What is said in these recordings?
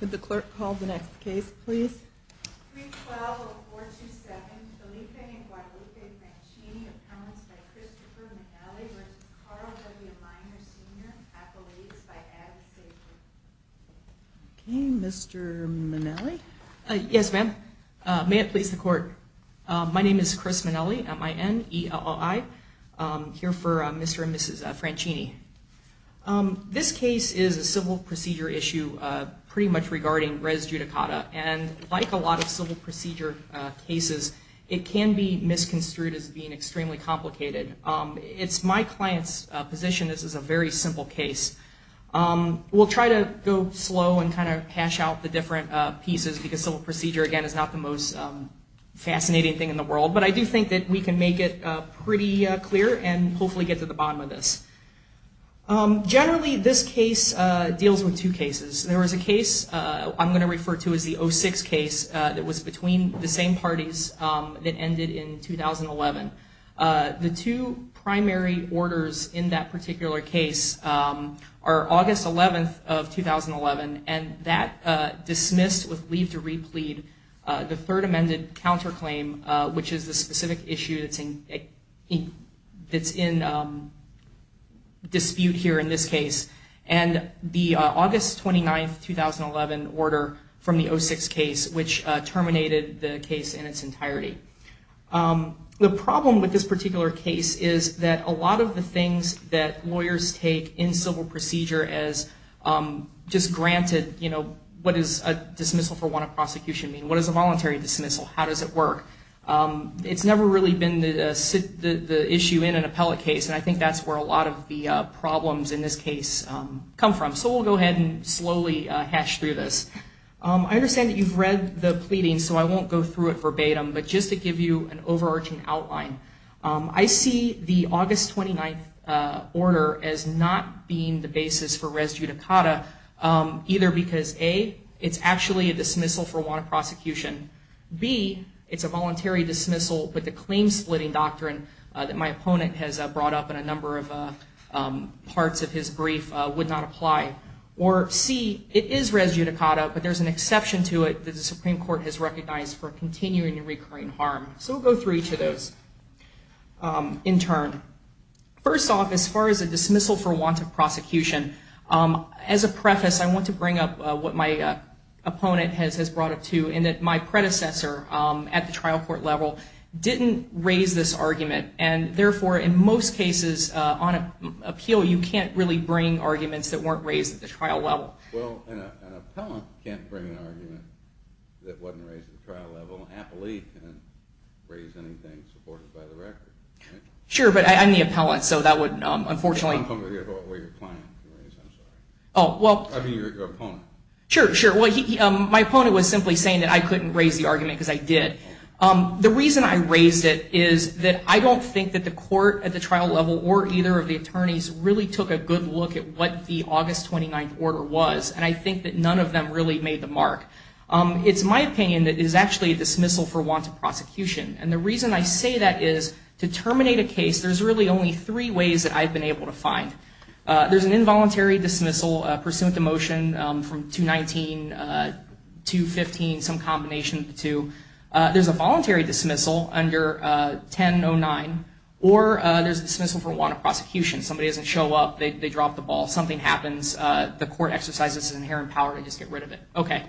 Could the clerk call the next case, please? Okay, Mr. Minnelli. Yes, ma'am. May it please the court. My name is Chris Minnelli at my end. I'm here for Mr and Mrs Franchini. Um, this case is a civil procedure issue pretty much regarding res judicata. And like a lot of civil procedure cases, it can be misconstrued as being extremely complicated. It's my client's position this is a very simple case. We'll try to go slow and kind of hash out the different pieces because civil procedure, again, is not the most fascinating thing in the world. But I do think that we can make it pretty clear and hopefully get to the bottom of this. Generally, this case deals with two cases. There was a case I'm going to refer to as the 06 case that was between the same parties that ended in 2011. The two primary orders in that particular case are August 11th of 2011 and that dismissed with leave to replead the third amended counterclaim, which is the dispute here in this case. And the August 29th, 2011 order from the 06 case, which terminated the case in its entirety. Um, the problem with this particular case is that a lot of the things that lawyers take in civil procedure as, um, just granted, you know, what is a dismissal for one of prosecution mean? What is a voluntary dismissal? How does it work? Um, it's never really been the issue in an appellate case. And I think that's where a lot of the problems in this case, um, come from. So we'll go ahead and slowly hash through this. Um, I understand that you've read the pleading, so I won't go through it verbatim, but just to give you an overarching outline. Um, I see the August 29th, uh, order as not being the basis for res judicata, um, either because A, it's actually a dismissal for one of prosecution. B, it's a voluntary dismissal, but the claim splitting doctrine that my opponent has brought up in a number of, uh, um, parts of his brief, uh, would not apply. Or C, it is res judicata, but there's an exception to it that the Supreme Court has recognized for continuing and recurring harm. So we'll go through each of those, um, in turn. First off, as far as a dismissal for want of prosecution, um, as a preface, I want to bring up what my, uh, opponent has, has brought up to and that my predecessor, um, at the trial court level didn't raise this is, uh, on appeal, you can't really bring arguments that weren't raised at the trial level. Well, an, an appellant can't bring an argument that wasn't raised at the trial level. An appellee can't raise anything supported by the record. Sure, but I, I'm the appellant, so that would, um, unfortunately. Well, your client can raise it, I'm sorry. Oh, well. I mean, your, your opponent. Sure, sure. Well, he, um, my opponent was simply saying that I couldn't raise the argument because I did. Um, the reason I raised it is that I don't think that the court at the trial level or either of the attorneys really took a good look at what the August 29th order was, and I think that none of them really made the mark. Um, it's my opinion that it is actually a dismissal for want of prosecution, and the reason I say that is to terminate a case, there's really only three ways that I've been able to find. Uh, there's an involuntary dismissal, uh, pursuant to motion, um, from 219, uh, 215, some or, uh, there's a dismissal for want of prosecution. Somebody doesn't show up, they, they drop the ball, something happens, uh, the court exercises its inherent power to just get rid of it. Okay.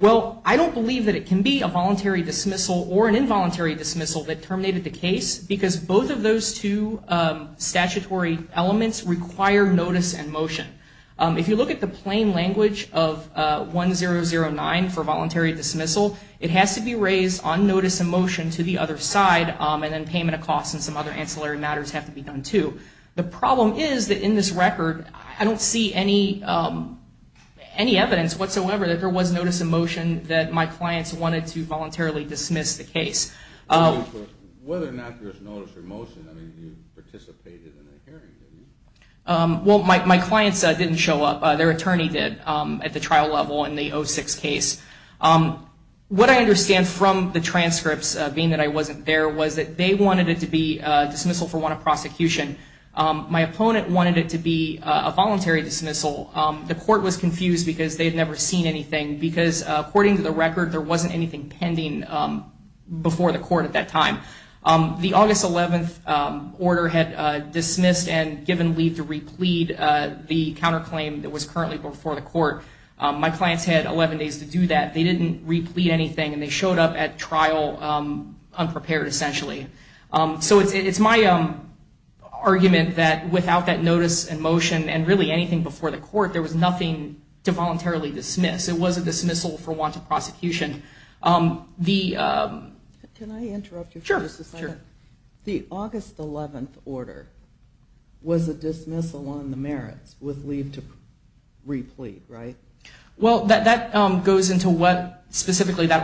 Well, I don't believe that it can be a voluntary dismissal or an involuntary dismissal that terminated the case because both of those two, um, statutory elements require notice and motion. Um, if you look at the plain language of, uh, 1009 for voluntary dismissal, it has to be raised on notice and motion to the other side, um, and then payment of costs and some other ancillary matters have to be done too. The problem is that in this record, I don't see any, um, any evidence whatsoever that there was notice and motion that my clients wanted to voluntarily dismiss the case. Um, whether or not there's notice or motion, I mean, you participated in the hearing, didn't you? Um, well, my, my clients, uh, didn't show up. Uh, their attorney did, um, at the trial level in the 06 case. Um, what I understand from the transcripts, uh, being that I wasn't there was that they wanted it to be a dismissal for one of prosecution. Um, my opponent wanted it to be a voluntary dismissal. Um, the court was confused because they had never seen anything because, uh, according to the record, there wasn't anything pending, um, before the court at that time. Um, the August 11th, um, order had, uh, dismissed and given leave to replete, uh, the counterclaim that was currently before the court. Um, my clients had 11 days to do that. They didn't replete anything and they showed up at trial, um, unprepared essentially. Um, so it's, it's my, um, argument that without that notice and motion and really anything before the court, there was nothing to voluntarily dismiss. It was a dismissal for one to prosecution. Um, the, um, can I interrupt you? Sure. Sure. The August 11th order was a dismissal on the merits with leave to replete, right? Well, that, that, um, goes into what dismissal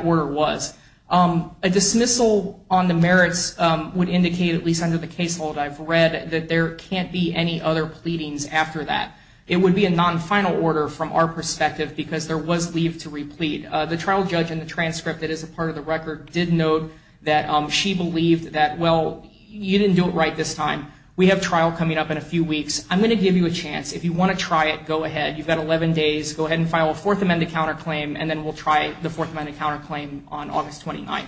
on the merits, um, would indicate at least under the casehold I've read that there can't be any other pleadings after that. It would be a non-final order from our perspective because there was leave to replete. Uh, the trial judge in the transcript that is a part of the record did note that, um, she believed that, well, you didn't do it right this time. We have trial coming up in a few weeks. I'm going to give you a chance. If you want to try it, go ahead. You've got 11 days, go ahead and file a fourth amended counterclaim, and then we'll try the fourth amended counterclaim on August 29th.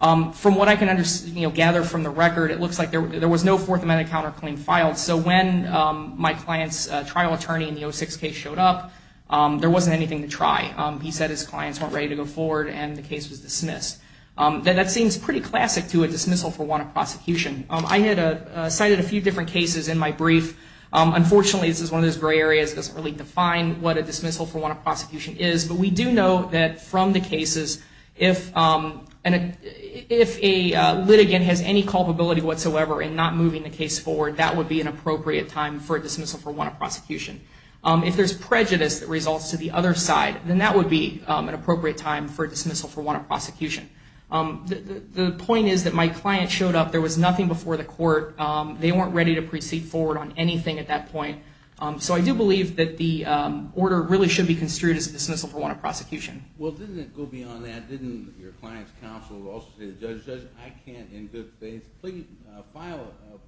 Um, from what I can understand, you know, gather from the record, it looks like there was no fourth amended counterclaim filed. So when, um, my client's, uh, trial attorney in the 06 case showed up, um, there wasn't anything to try. Um, he said his clients weren't ready to go forward and the case was dismissed. Um, that, that seems pretty classic to a dismissal for want of prosecution. Um, I had, uh, uh, cited a few different cases in my brief. Um, unfortunately this is one of those gray areas that doesn't really define what a dismissal for want of prosecution is, but we do know that from the cases, if, um, and if a, uh, litigant has any culpability whatsoever in not moving the case forward, that would be an appropriate time for a dismissal for want of prosecution. Um, if there's prejudice that results to the other side, then that would be, um, an appropriate time for a dismissal for want of prosecution. Um, the, the, the point is that my client showed up, there was nothing before the court. Um, they weren't ready to proceed forward on anything at that point. Um, so I do believe that the, um, order really should be construed as a dismissal for want of prosecution. Well, didn't it go beyond that? Didn't your client's counsel also say to the judge, judge, I can't in good faith plead, uh, file a, uh,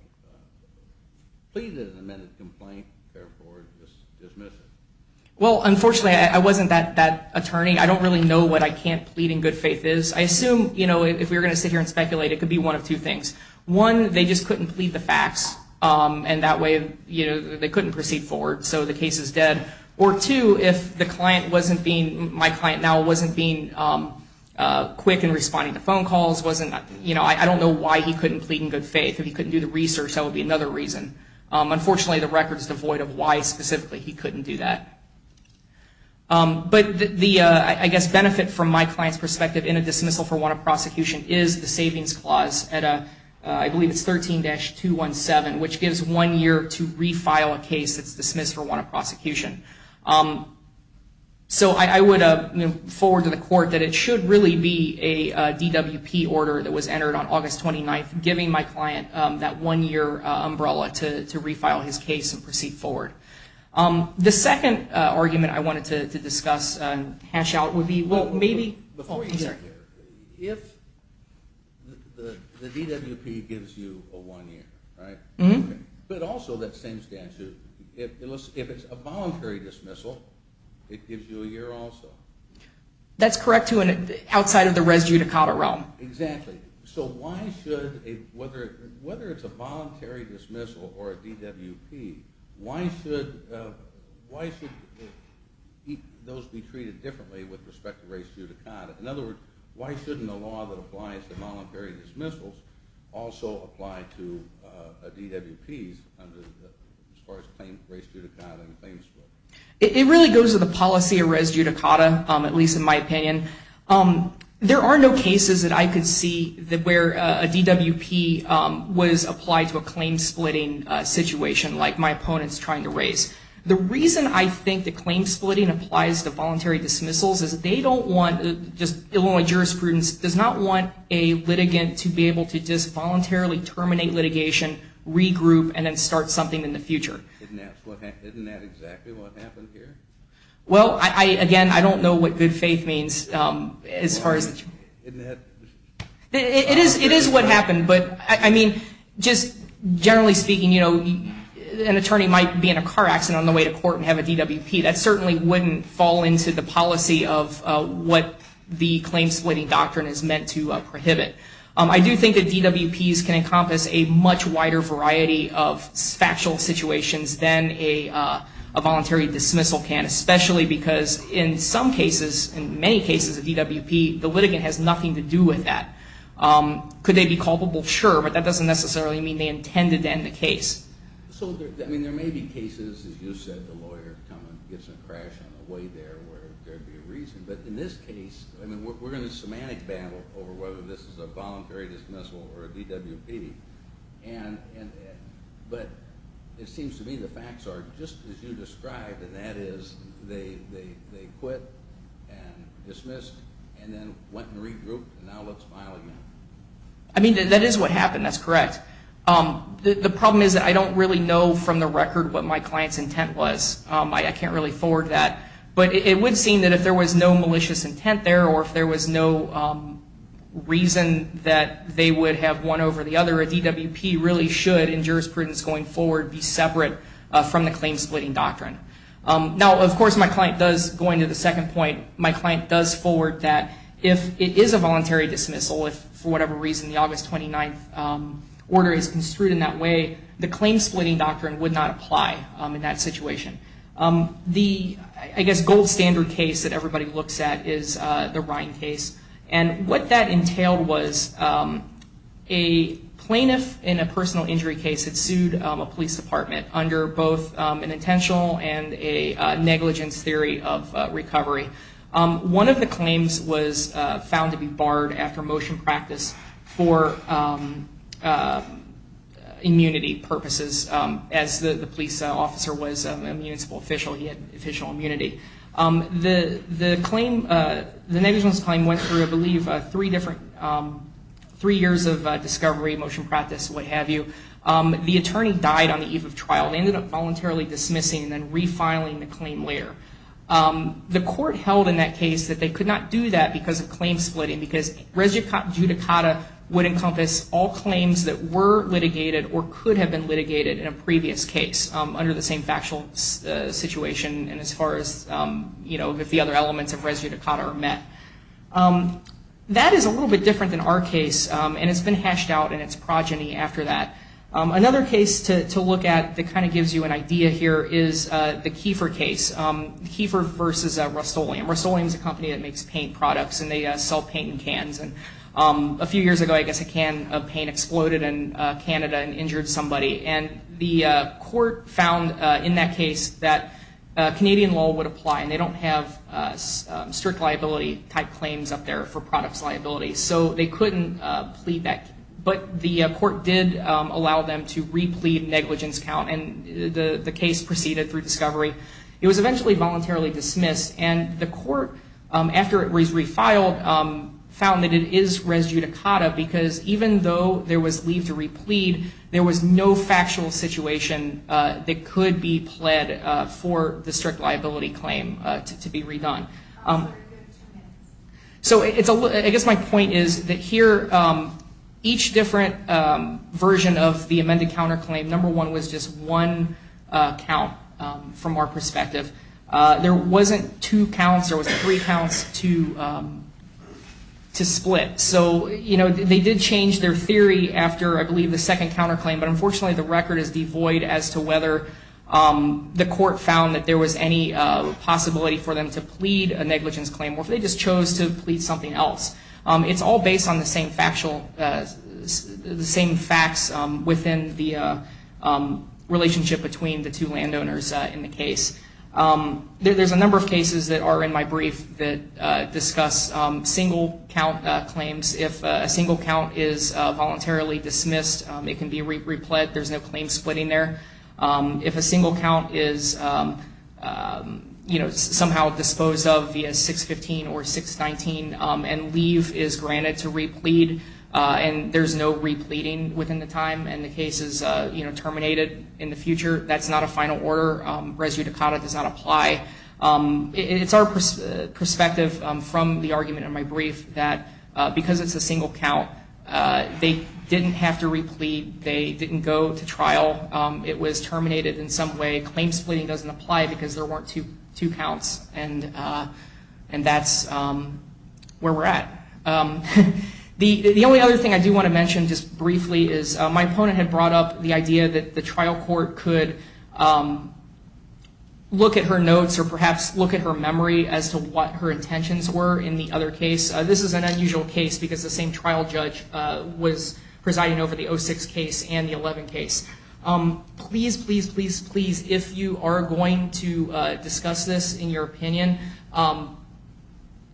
plead an amended complaint, therefore dismiss it? Well, unfortunately I wasn't that, that attorney. I don't really know what I can't plead in good faith is. I assume, you know, if we were going to sit here and speculate, it could be one of two things. One, they just couldn't plead the facts. Um, and that way, you know, they couldn't proceed forward. So the two, if the client wasn't being, my client now wasn't being, um, uh, quick in responding to phone calls, wasn't, you know, I, I don't know why he couldn't plead in good faith. If he couldn't do the research, that would be another reason. Um, unfortunately the record is devoid of why specifically he couldn't do that. Um, but the, the, uh, I guess benefit from my client's perspective in a dismissal for want of prosecution is the savings clause at a, uh, I believe it's 13-217, which gives one year to refile a case that's dismissed for want of prosecution. Um, so I, I would, uh, you know, forward to the court that it should really be a, uh, DWP order that was entered on August 29th, giving my client, um, that one year, uh, umbrella to, to refile his case and proceed forward. Um, the second, uh, argument I wanted to, to discuss, uh, and hash out would be, well, maybe before you get there, if the, the DWP gives you a one year, right? But also that same statute, if it was, if it's a voluntary dismissal, it gives you a year also. That's correct to an outside of the res judicata realm. Exactly. So why should a, whether, whether it's a voluntary dismissal or a DWP, why should, uh, why should those be treated differently with respect to res judicata? In other words, why shouldn't the law that applies to voluntary dismissals also apply to, uh, DWPs under the, as far as claim res judicata and claim split? It really goes with the policy of res judicata, um, at least in my opinion. Um, there are no cases that I could see that where, uh, a DWP, um, was applied to a claim splitting, uh, situation like my opponent's trying to raise. The reason I think the claim splitting applies to voluntary dismissals is that they don't want, just jurisprudence does not want a litigant to be able to just voluntarily terminate litigation, regroup, and then start something in the future. Isn't that exactly what happened here? Well, I, again, I don't know what good faith means, um, as far as, it is, it is what happened, but I mean, just generally speaking, you know, an attorney might be in a car accident on the way to court and have a DWP that certainly wouldn't fall into the policy of, uh, what the claim splitting doctrine is meant to, uh, prohibit. Um, I do think that DWPs can encompass a much wider variety of factual situations than a, uh, a voluntary dismissal can, especially because in some cases, in many cases of DWP, the litigant has nothing to do with that. Um, could they be culpable? Sure. But that doesn't necessarily mean they intended to end the case. So, I mean, there may be cases, as you said, the reason, but in this case, I mean, we're in a semantic battle over whether this is a voluntary dismissal or a DWP. And, and, but it seems to me the facts are just as you described, and that is they, they, they quit and dismissed and then went and regrouped and now it's filing them. I mean, that is what happened. That's correct. Um, the problem is that I don't really know from the record what my client's intent was. Um, I, I can't really forward that, but it would seem that if there was no malicious intent there, or if there was no, um, reason that they would have one over the other, a DWP really should in jurisprudence going forward be separate, uh, from the claim splitting doctrine. Um, now of course my client does, going to the second point, my client does forward that if it is a voluntary dismissal, if for whatever reason, the August 29th, um, order is construed in that way, the claim splitting doctrine would not apply, um, in that case. The, I guess, gold standard case that everybody looks at is, uh, the Ryan case. And what that entailed was, um, a plaintiff in a personal injury case had sued, um, a police department under both, um, an intentional and a, uh, negligence theory of, uh, recovery. Um, one of the claims was, uh, found to be barred after motion practice for, um, uh, immunity purposes. Um, as the police officer was a municipal official, he had official immunity. Um, the, the claim, uh, the negligence claim went through, I believe, uh, three different, um, three years of, uh, discovery, motion practice, what have you. Um, the attorney died on the eve of trial. They ended up voluntarily dismissing and then refiling the claim later. Um, the court held in that case that they could not do that because of claim splitting, because res judicata would encompass all claims that were litigated or could have been litigated in a previous case, um, under the same factual situation. And as far as, um, you know, if the other elements of res judicata are met. Um, that is a little bit different than our case. Um, and it's been hashed out in its progeny after that. Um, another case to, to look at that kind of gives you an idea here is, uh, the Kiefer case. Um, Kiefer versus, uh, Rust-Oleum. Rust-Oleum's a company that makes paint products and they, uh, sell paint in cans. And, um, a few years ago, I guess a can of paint exploded in, uh, Canada and injured somebody. And the, uh, court found, uh, in that case that, uh, Canadian law would apply and they don't have, uh, uh, strict liability type claims up there for products liability. So they couldn't, uh, plead that. But the court did, um, allow them to replead negligence count. And the, the case proceeded through discovery. It was eventually voluntarily dismissed. And the court, um, after it was refiled, um, found that it is res judicata because even though there was leave to replead, there was no factual situation, uh, that could be pled, uh, for the strict liability claim, uh, to, to be redone. Um, so it's a, I guess my point is that here, um, each different, um, version of the amended counter claim, number one was just one, uh, count, um, from our perspective. Uh, there wasn't two counts. There was three counts to, um, to split. So, you know, they did change their theory after I believe the second counter claim, but unfortunately the record is devoid as to whether, um, the court found that there was any, uh, possibility for them to plead a negligence claim or if they just chose to plead something else. Um, it's all based on the same factual, uh, the same facts, um, within the, uh, um, relationship between the two landowners, uh, in the case. Um, there, there's a number of cases that are in my brief that, uh, discuss, um, single count, uh, claims. If a single count is, uh, voluntarily dismissed, um, it can be re, repled. There's no claim splitting there. Um, if a single count is, um, um, you know, somehow disposed of via 615 or 619, um, and leave is granted to replead, uh, and there's no repleading within the time and the case is, uh, you know, terminated in the future, that's not a final order. Um, res judicata does not apply. Um, it's our pers, uh, perspective, um, from the argument in my brief that, uh, because it's a single count, uh, they didn't have to replead. They didn't go to trial. Um, it was terminated in some way. Claim splitting doesn't apply because there weren't two, two counts. And, uh, and that's, um, where we're at. Um, the, the only other thing I do want to mention just briefly is, uh, my opponent had brought up the idea that the trial court could, um, look at her notes or perhaps look at her memory as to what her intentions were in the other case. Uh, this is an unusual case because the same trial judge, uh, was presiding over the 06 case and the 11 case. Um, please, please, please, please, if you are going to, uh, discuss this in your opinion, um,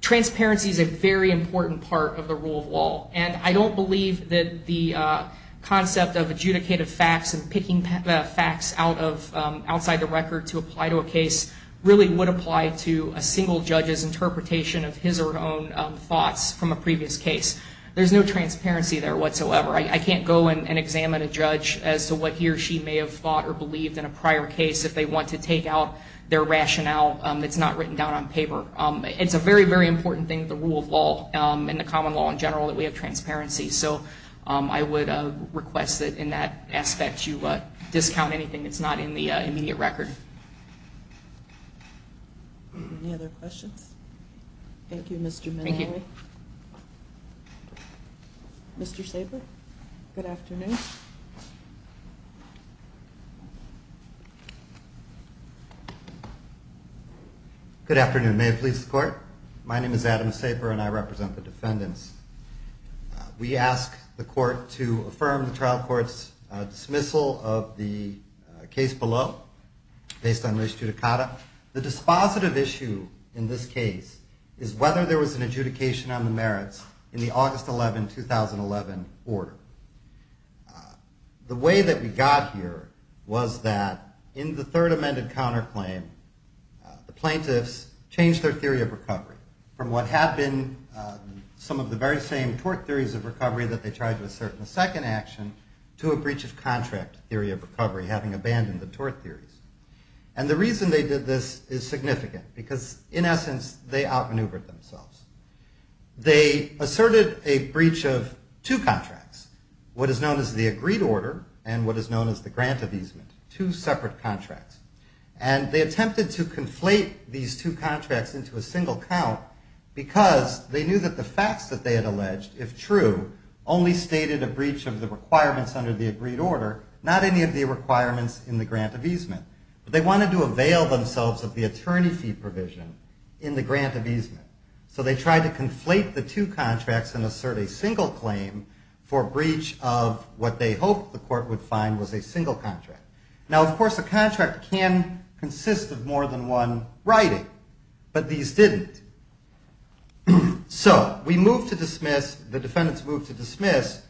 transparency is a very important part of the rule of law. And I don't believe that the, uh, concept of adjudicated facts and picking facts out of, um, outside the record to apply to a case really would apply to a single judge's interpretation of his or her own, um, thoughts from a previous case. There's no transparency there whatsoever. I, I can't go and examine a judge as to what he or she may have thought or believed in a prior case if they want to take out their rationale. Um, it's not written down on paper. Um, it's a very, very important thing that the rule of law, um, and the common law in general, that we have transparency. So, um, I would, uh, request that in that aspect, you, uh, discount anything that's not in the immediate record. Any other questions? Thank you, Mr. Thank you. Mr Saber. Good afternoon. Good afternoon. May it please the court. My name is Adam Saber and I represent the defendants. We ask the court to affirm the trial court's dismissal of the case below based on race judicata. The dispositive issue in this case is whether there was an adjudication on the merits in the August 11, 2011 order. Uh, the way that we got here was that in the third amended counterclaim, the some of the very same tort theories of recovery that they tried to assert in the second action to a breach of contract theory of recovery, having abandoned the tort theories. And the reason they did this is significant because in essence, they outmaneuvered themselves. They asserted a breach of two contracts, what is known as the agreed order and what is known as the grant of easement, two separate contracts. And they attempted to conflate these two facts that they had alleged, if true, only stated a breach of the requirements under the agreed order, not any of the requirements in the grant of easement, but they wanted to avail themselves of the attorney fee provision in the grant of easement. So they tried to conflate the two contracts and assert a single claim for breach of what they hoped the court would find was a single contract. Now, of course, a contract can consist of more than one writing, but these didn't. So we moved to dismiss, the defendants moved to dismiss,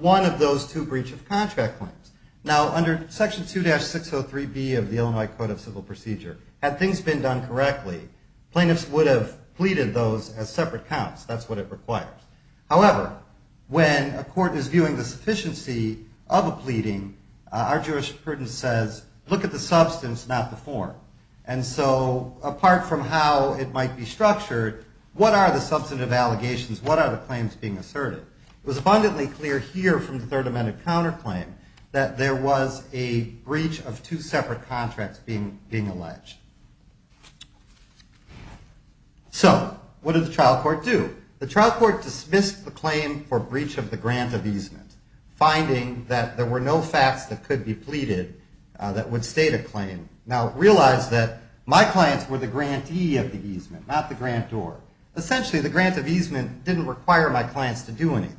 one of those two breach of contract claims. Now, under section 2-603B of the Illinois Code of Civil Procedure, had things been done correctly, plaintiffs would have pleaded those as separate counts. That's what it requires. However, when a court is viewing the sufficiency of a pleading, our jurisprudence says, look at the substance, not the form. And so apart from how it might be structured, what are the substantive allegations? What are the claims being asserted? It was abundantly clear here from the Third Amendment counterclaim that there was a breach of two separate contracts being alleged. So what did the trial court do? The trial court dismissed the claim for breach of the grant of easement, finding that there were no facts that could be pleaded that would state a claim. Now, realize that my clients were the grantee of the easement, not the grantor. Essentially, the grant of easement didn't require my clients to do anything.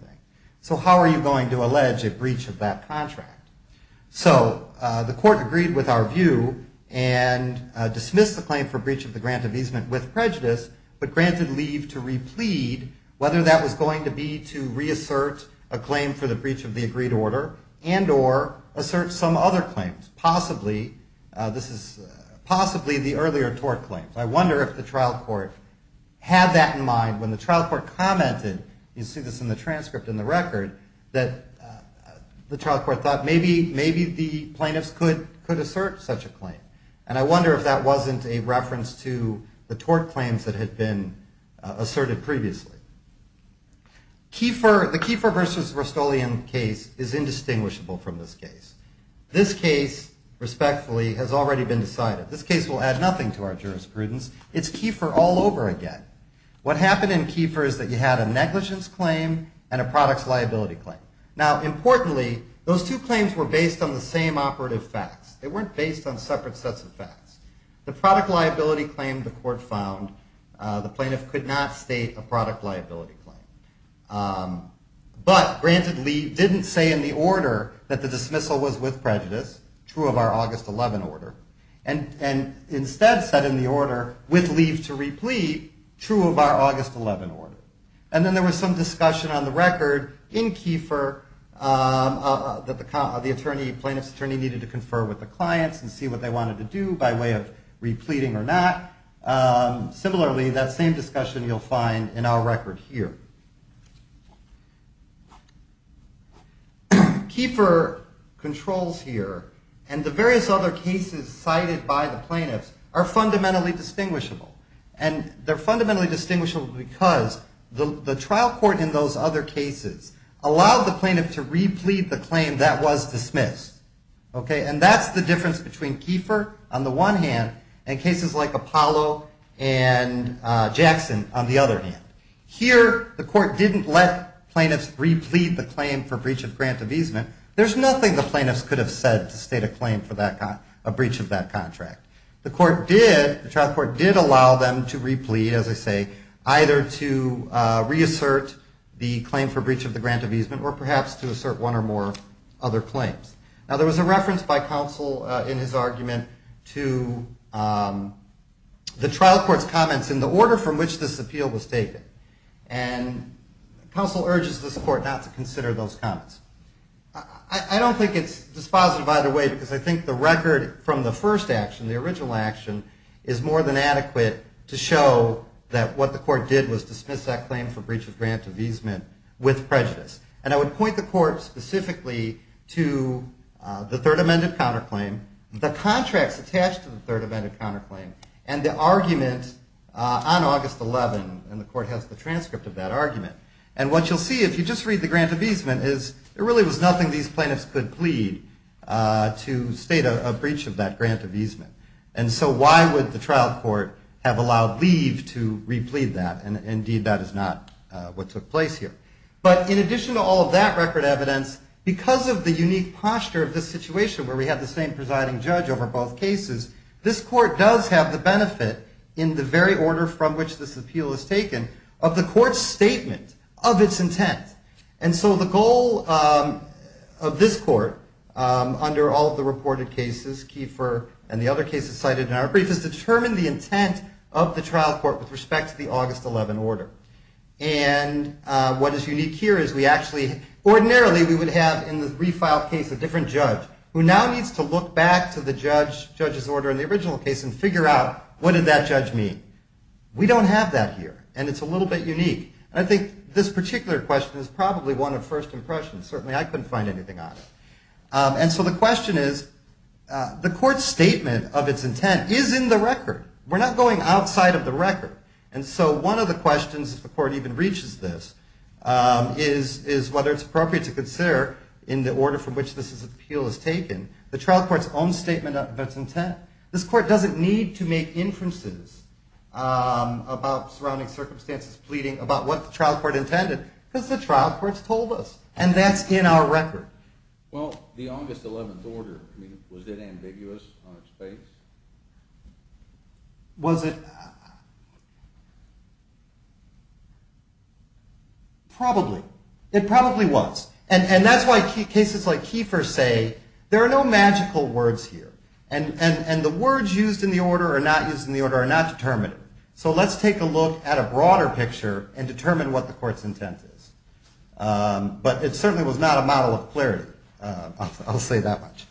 So how are you going to allege a breach of that contract? So the court agreed with our view and dismissed the claim for breach of the grant of easement with prejudice, but granted leave to replead whether that was going to be to reassert a claim for the breach of the agreed order and or assert some other claims, possibly the earlier tort claims. I wonder if the trial court had that in mind when the trial court commented, you see this in the transcript in the record, that the trial court thought maybe the plaintiffs could assert such a claim. And I wonder if that wasn't a reference to the tort claims that had been asserted previously. The Kiefer versus Rustolian case is indistinguishable from this case. This case, respectfully, has already been decided. This case will add nothing to our jurisprudence. It's Kiefer all over again. What happened in Kiefer is that you had a negligence claim and a products liability claim. Now, importantly, those two claims were based on the same operative facts. They weren't based on separate sets of facts. The product liability claim, the court found, the plaintiff could not state a product liability claim. But granted leave didn't say in the order that the dismissal was with prejudice, true of our August 11 order, and instead said in the order, with leave to replete, true of our August 11 order. And then there was some discussion on the record in Kiefer that the plaintiff's attorney needed to decide if he was repleting or not. Similarly, that same discussion you'll find in our record here. Kiefer controls here, and the various other cases cited by the plaintiffs, are fundamentally distinguishable. And they're fundamentally distinguishable because the trial court in those other cases allowed the plaintiff to replete the claim that was dismissed. Okay, and that's the difference between Kiefer on the one hand, and cases like Apollo and Jackson on the other hand. Here, the court didn't let plaintiffs replete the claim for breach of grant of easement. There's nothing the plaintiffs could have said to state a claim for a breach of that contract. The trial court did allow them to replete, as I say, either to reassert the claim for breach of the grant of easement, or perhaps to assert one or more other claims. Now, there was a reference by counsel in his report to the trial court's comments in the order from which this appeal was taken. And counsel urges this court not to consider those comments. I don't think it's dispositive either way, because I think the record from the first action, the original action, is more than adequate to show that what the court did was dismiss that claim for breach of grant of easement with prejudice. And I would point the court specifically to the third amended counterclaim. The contract's attached to the third amended counterclaim, and the argument on August 11, and the court has the transcript of that argument. And what you'll see, if you just read the grant of easement, is there really was nothing these plaintiffs could plead to state a breach of that grant of easement. And so why would the trial court have allowed leave to replete that? And indeed, that is not what took place here. But in addition to all of that record evidence, because of the unique posture of this situation where we have the same presiding judge over both cases, this court does have the benefit, in the very order from which this appeal is taken, of the court's statement of its intent. And so the goal of this court, under all of the reported cases, Kiefer and the other cases cited in our brief, is to determine the intent of the trial court with respect to the August 11 order. And what is unique here is we actually, ordinarily we would have in the refiled case a different judge, who now needs to look back to the judge's order in the original case and figure out, what did that judge mean? We don't have that here, and it's a little bit unique. And I think this particular question is probably one of first impressions. Certainly I couldn't find anything on it. And so the question is, the court's statement of its intent is in the record. We're not going outside of the record. And so one of the questions, if the court even reaches this, is whether it's appropriate to consider, in the order from which this appeal is taken, the trial court's own statement of its intent. This court doesn't need to make inferences about surrounding circumstances, pleading about what the trial court intended, because the trial court's told us. And that's in our record. Well, the August 11 order, was it ambiguous on its face? Was it? Probably. It probably was. And that's why cases like Kiefer's say, there are no magical words here. And the words used in the order or not used in the order are not determinative. So let's take a look at a broader picture and determine what the court's intent is. But it certainly was not a model of clarity. I'll say that much.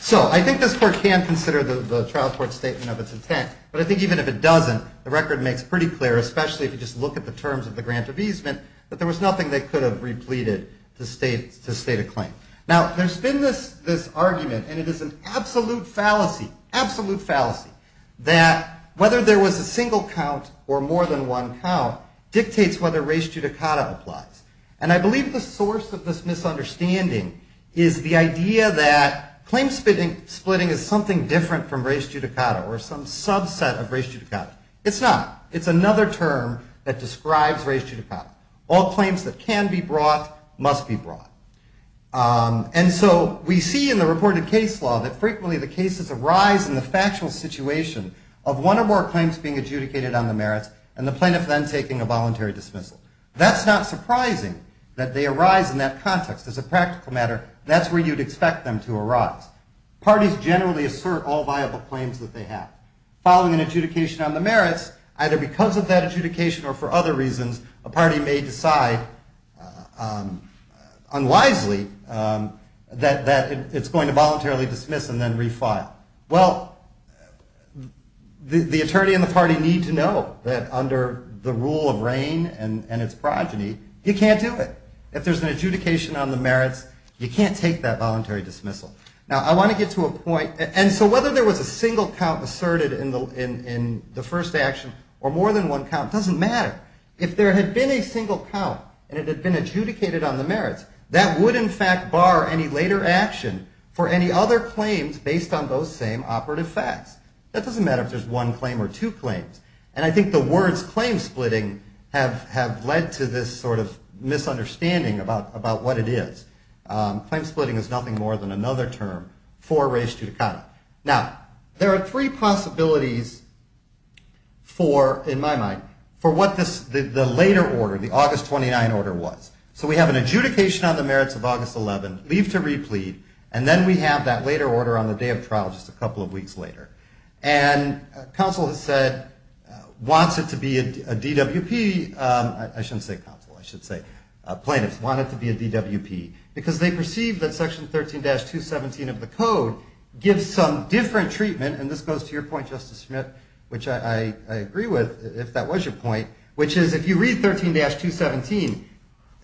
So I think this court can consider the trial court's statement of its intent. But I think even if it doesn't, the record makes pretty clear, especially if you just look at the terms of the grant of easement, that there was nothing they could have repleted to state a claim. Now, there's been this argument, and it is an absolute fallacy, absolute fallacy, that whether there was a single count or more than one count dictates whether res judicata applies. And I believe the source of this misunderstanding is the idea that claim splitting is something different from res judicata or some subset of res judicata. It's not. It's another term that describes res judicata. All claims that can be brought must be brought. And so we see in the reported case law that frequently the cases arise in the factual situation of one or more claims being adjudicated on the merits and the plaintiff then taking a voluntary dismissal. That's not surprising that they arise in that context. As a practical matter, that's where you'd expect them to arise. Parties generally assert all viable claims that they have. Following an adjudication on the merits, either because of that adjudication or for other reasons, a party may decide unwisely that it's going to voluntarily dismiss and then refile. Well, the attorney and the party need to know that under the rule of reign and its progeny, you can't do it. If there's an adjudication on the merits, you can't take that voluntary dismissal. Now, I want to get to a point. And so whether there was a single count asserted in the first action or more than one count doesn't matter. If there had been a single count and it had been adjudicated on the merits, that would in fact bar any later action for any other claims based on those same operative facts. That doesn't matter if there's one claim or two claims. And I think the words claim splitting have led to this sort of misunderstanding about what it is. Claim splitting is nothing more than another term for three possibilities for, in my mind, for what the later order, the August 29 order was. So we have an adjudication on the merits of August 11, leave to replead, and then we have that later order on the day of trial just a couple of weeks later. And counsel has said, wants it to be a DWP. I shouldn't say counsel, I should say plaintiffs want it to be a DWP because they perceive that your point, Justice Smith, which I agree with, if that was your point, which is if you read 13-217,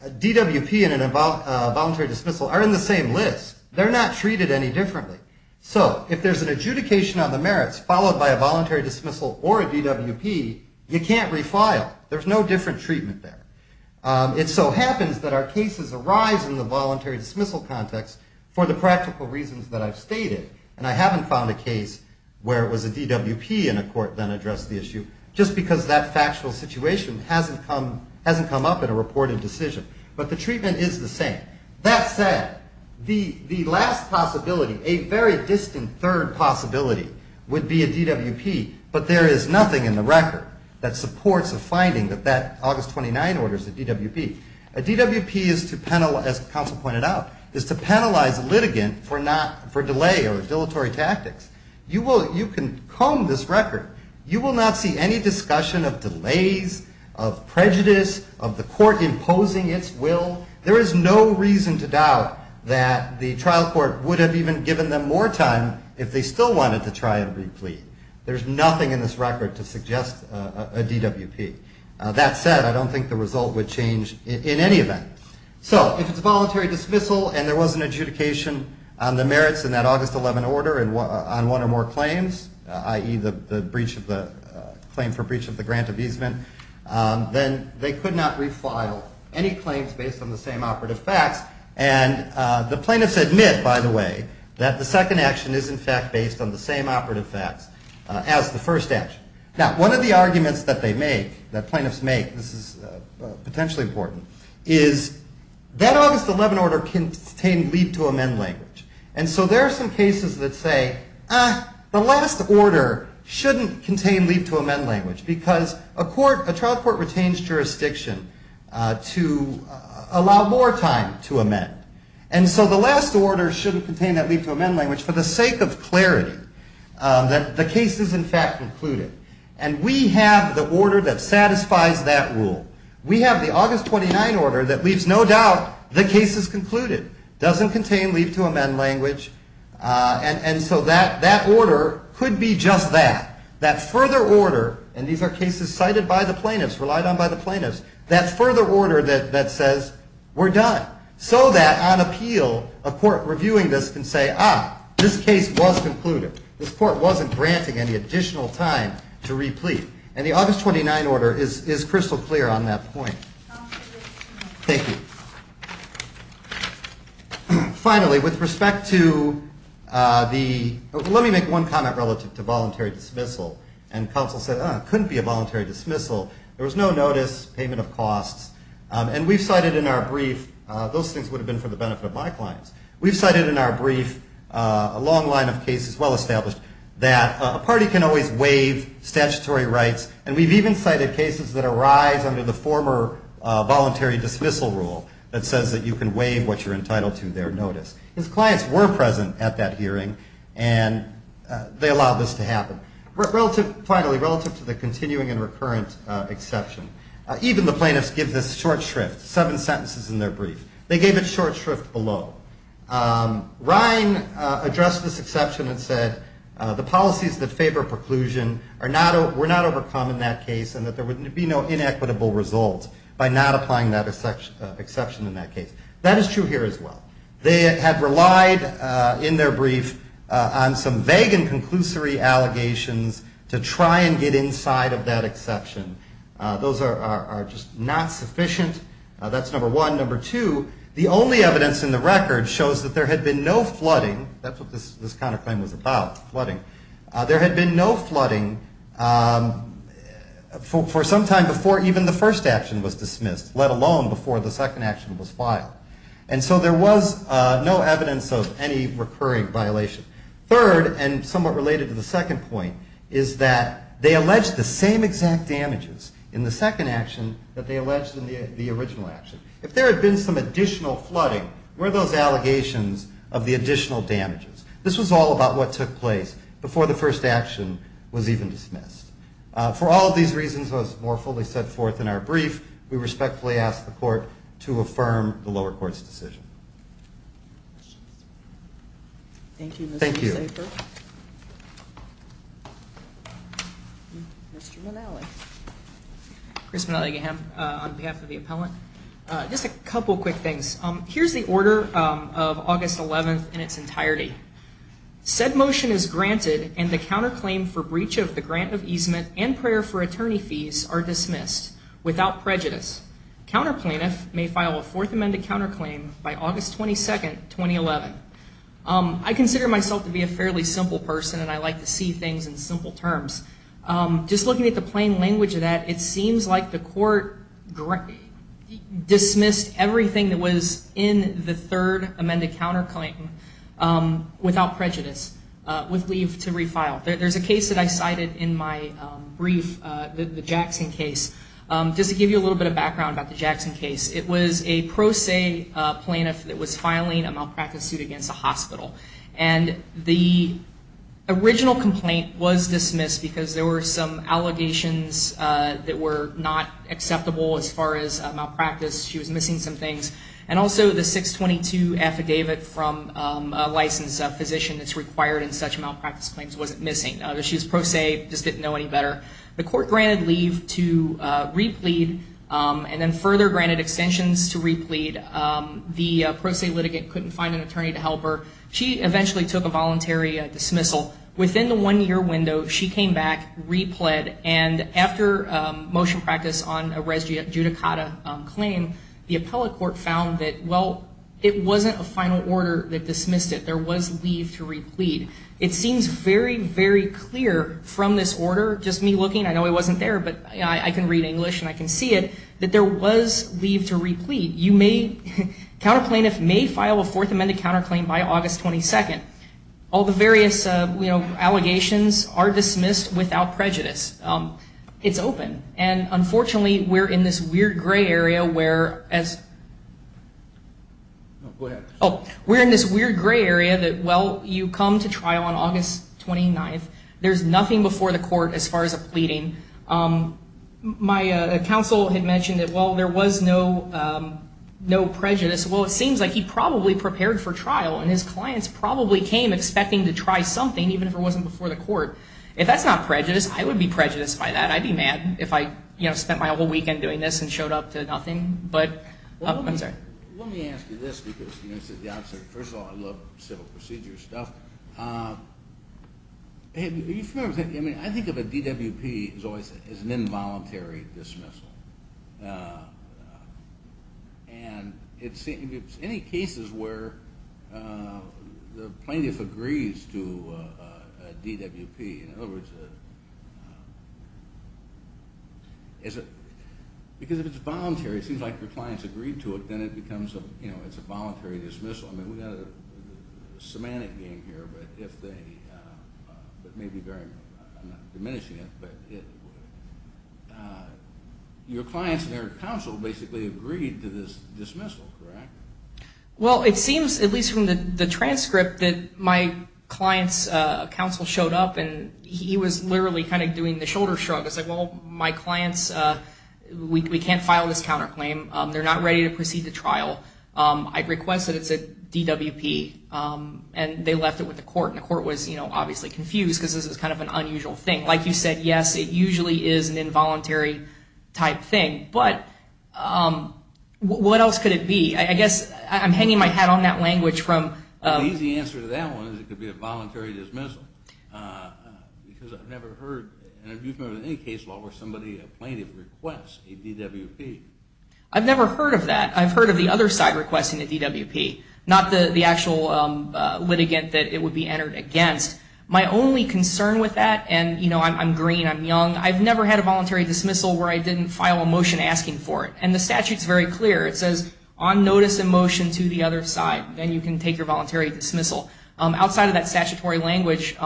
DWP and a voluntary dismissal are in the same list. They're not treated any differently. So if there's an adjudication on the merits followed by a voluntary dismissal or a DWP, you can't refile. There's no different treatment there. It so happens that our cases arise in the voluntary dismissal context for the practical reasons that I've stated. And I haven't found a case where it was a DWP and a court then addressed the issue just because that factual situation hasn't come up in a reported decision. But the treatment is the same. That said, the last possibility, a very distant third possibility, would be a DWP. But there is nothing in the record that supports a finding that that August 29 order is a DWP. A DWP is to, as counsel pointed out, is to penalize a litigant for delay or dilatory tactics. You can comb this record. You will not see any discussion of delays, of prejudice, of the court imposing its will. There is no reason to doubt that the trial court would have even given them more time if they still wanted to try and replead. There's nothing in this record to suggest a DWP. That said, I don't think the result would change in any event. So if it's a voluntary dismissal and there was an adjudication on the merits in that August 11 order on one or more claims, i.e. the claim for breach of the grant of easement, then they could not refile any claims based on the same operative facts. And the plaintiffs admit, by the way, that the second action is, in fact, based on the same operative facts as the first action. Now, one of the arguments that they make, that plaintiffs make, this is potentially important, is that August 11 order contained leave to amend language. And so there are some cases that say, the last order shouldn't contain leave to amend language because a trial court retains jurisdiction to allow more time to amend. And so the last order shouldn't contain that leave to amend language for the sake of clarity, that the case is, in fact, concluded. And we have the order that satisfies that rule. We have the August 29 order that leaves no doubt the case is concluded. Doesn't contain leave to amend language. And so that order could be just that. That further order, and these are cases cited by the plaintiffs, relied on by the plaintiffs, that further order that says, we're done. So that on appeal, a court reviewing this can say, ah, this case was concluded. This court wasn't granting any additional time to replete. And the August 29 order is crystal clear on that point. Thank you. Finally, with respect to the, let me make one comment relative to voluntary dismissal. And counsel said, ah, it couldn't be a voluntary dismissal. There was no notice, payment of costs. And we've cited in our brief, those things would have been for the benefit of my clients. We've cited that a party can always waive statutory rights. And we've even cited cases that arise under the former voluntary dismissal rule that says that you can waive what you're entitled to, their notice. His clients were present at that hearing, and they allowed this to happen. Relative, finally, relative to the continuing and recurrent exception, even the plaintiffs give this short shrift, seven sentences in their brief. They gave it short shrift below. Ryan addressed this exception and said, the policies that favor preclusion are not, were not overcome in that case, and that there would be no inequitable result by not applying that exception in that case. That is true here as well. They have relied in their brief on some vague and conclusory allegations to try and get inside of that exception. Those are just not sufficient. That's number one. Number two, the only evidence in the record shows that there had been no flooding. That's what this counterclaim was about, flooding. There had been no flooding for some time before even the first action was dismissed, let alone before the second action was filed. And so there was no evidence of any recurring violation. Third, and somewhat related to the second point, is that they alleged the same exact damages in the second action that they alleged in the original action. If there had been some additional flooding, where are those allegations of the additional damages? This was all about what took place before the first action was even dismissed. For all of these reasons, as more fully set forth in our brief, we respectfully ask the court to affirm the lower court's decision. Thank you. Thank you. Mr. Manali. Chris Manali Gaham on behalf of the appellant. Just a couple quick things. Here's the order of August 11th in its entirety. Said motion is granted and the counterclaim for breach of the grant of easement and prayer for attorney fees are dismissed without prejudice. Counterplaintiff may file a fourth amended counterclaim by August 22nd, 2011. I consider myself to be a fairly simple person and I like to see things in simple terms. Just looking at the plain language of that, it seems like the court dismissed everything that was in the third amended counterclaim without prejudice, with leave to refile. There's a case that I cited in my brief, the Jackson case. Just to give you a little bit of background about the Jackson case, it was a pro se plaintiff that was filing a malpractice suit against a hospital. The original complaint was dismissed because there were some allegations that were not acceptable as far as malpractice. She was missing some things. And also the 622 affidavit from a licensed physician that's required in such malpractice claims wasn't missing. She was pro se, just didn't know any better. The court granted leave to replead and then further granted extensions to replead. The pro se litigant couldn't find an attorney to help her. She eventually took a voluntary dismissal. Within the one year window, she came back, repled, and after motion practice on a res judicata claim, the appellate court found that, well, it wasn't a final order that dismissed it. There was leave to replead. It seems very, very clear from this order, just me looking, I know it wasn't there, but I can read English and I can see it, that there was leave to replead. You may, counter plaintiff may file a fourth amended counterclaim by August 22nd. All the various, you know, allegations are dismissed without prejudice. It's open. And unfortunately, we're in this weird gray area where as, oh, we're in this weird gray area that, well, you come to trial on August 29th. There's nothing before the court as far as a pleading. My counsel had mentioned that, well, there was no, no prejudice. Well, it seems like he probably prepared for trial and his clients probably came expecting to try something, even if it wasn't before the court. If that's not prejudice, I would be prejudiced by that. I'd be mad if I, you know, spent my whole weekend doing this and showed up to nothing. But let me ask you this because, you know, this is the opposite. First of all, I love civil procedure stuff. I mean, I think of a DWP as always as an involuntary dismissal. And it seems, any cases where the plaintiff agrees to a DWP, in other words, is it because if it's voluntary, it seems like your clients agreed to it, then it becomes a, you know, it's a voluntary dismissal. I mean, we got a semantic game here, but if they, but maybe very, I'm not diminishing it, but it, your clients and their counsel basically agreed to this dismissal, correct? Well, it seems at least from the transcript that my client's counsel showed up and he was literally kind of doing the shoulder shrug. I said, well, my clients, we can't file this counterclaim. They're not ready to proceed to trial. I request that it's a DWP. And they left it with the court and the court was, you know, obviously confused because this is kind of an unusual thing. Like you said, yes, it usually is an involuntary type thing, but what else could it be? I guess I'm hanging my hat on that language from... The easy answer to that one is it could be a voluntary dismissal because I've never heard an abuse member in any case law where somebody, a plaintiff requests a DWP. I've never heard of that. I've heard of the other side requesting a DWP, not the actual litigant that it would be entered against. My only concern with that, and you know, I'm green, I'm young, I've never had a voluntary dismissal where I didn't file a motion asking for it. And the statute's very clear. It says on notice of motion to the other side, then you can take your voluntary dismissal. Outside of that statutory language,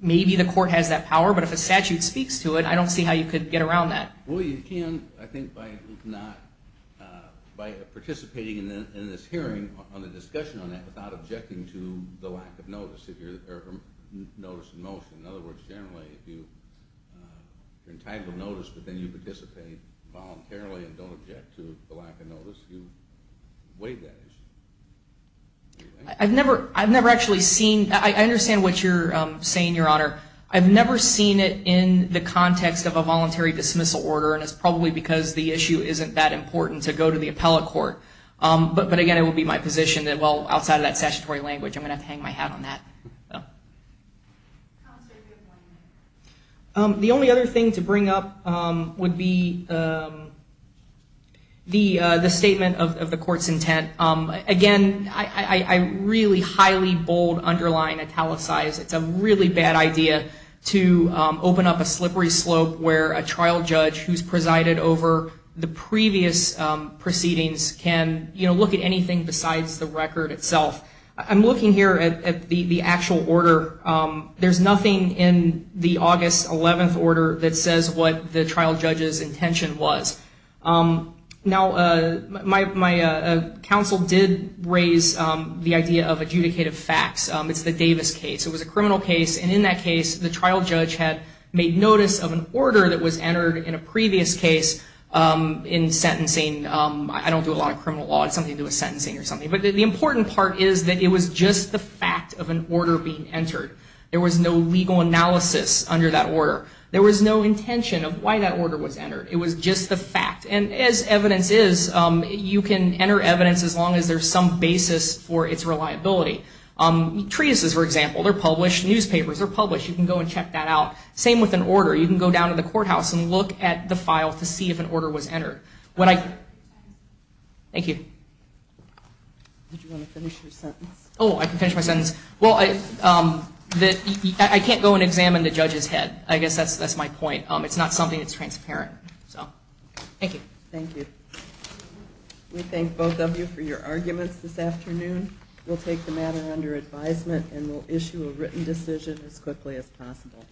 maybe the court has that power, but if a statute speaks to it, I don't see how you could get around that. Well, you can, I think, by participating in this hearing on the discussion on that without objecting to the lack of notice in motion. In other words, generally, if you're entitled to notice, but then you participate voluntarily and don't object to the lack of notice, you waive that issue. I've never actually seen... I understand what you're saying, Your Honor. I've never seen it in the context of a voluntary dismissal order, and it's probably because the issue isn't that important to go to the appellate court. But again, it would be my position that, well, outside of that statutory language, I'm going to have to hang my hat on that. The only other thing to bring up would be the statement of the court's intent. Again, I really highly bold underline italicize it's a really bad idea to open up a slippery slope where a trial judge who's presided over the previous proceedings can look at anything besides the record itself. I'm looking here at the actual order. There's nothing in the August 11th order that says what the counsel did raise the idea of adjudicative facts. It's the Davis case. It was a criminal case, and in that case, the trial judge had made notice of an order that was entered in a previous case in sentencing. I don't do a lot of criminal law. It's something to do with sentencing or something. But the important part is that it was just the fact of an order being entered. There was no legal analysis under that order. There was no intention of why that order was entered. It was just the fact. And as evidence is, you can enter evidence as long as there's some basis for its reliability. Treatises, for example, they're published. Newspapers are published. You can go and check that out. Same with an order. You can go down to the courthouse and look at the file to see if an order was entered. When I... Thank you. Oh, I can finish my sentence. Well, I can't go and examine the judge's head. I guess that's my point. It's not something that's transparent. Thank you. Thank you. We thank both of you for your arguments this afternoon. We'll take the matter under advisement and we'll issue a written decision as quickly as possible.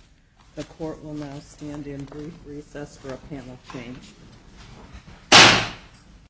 The court will now stand in brief recess for a panel change.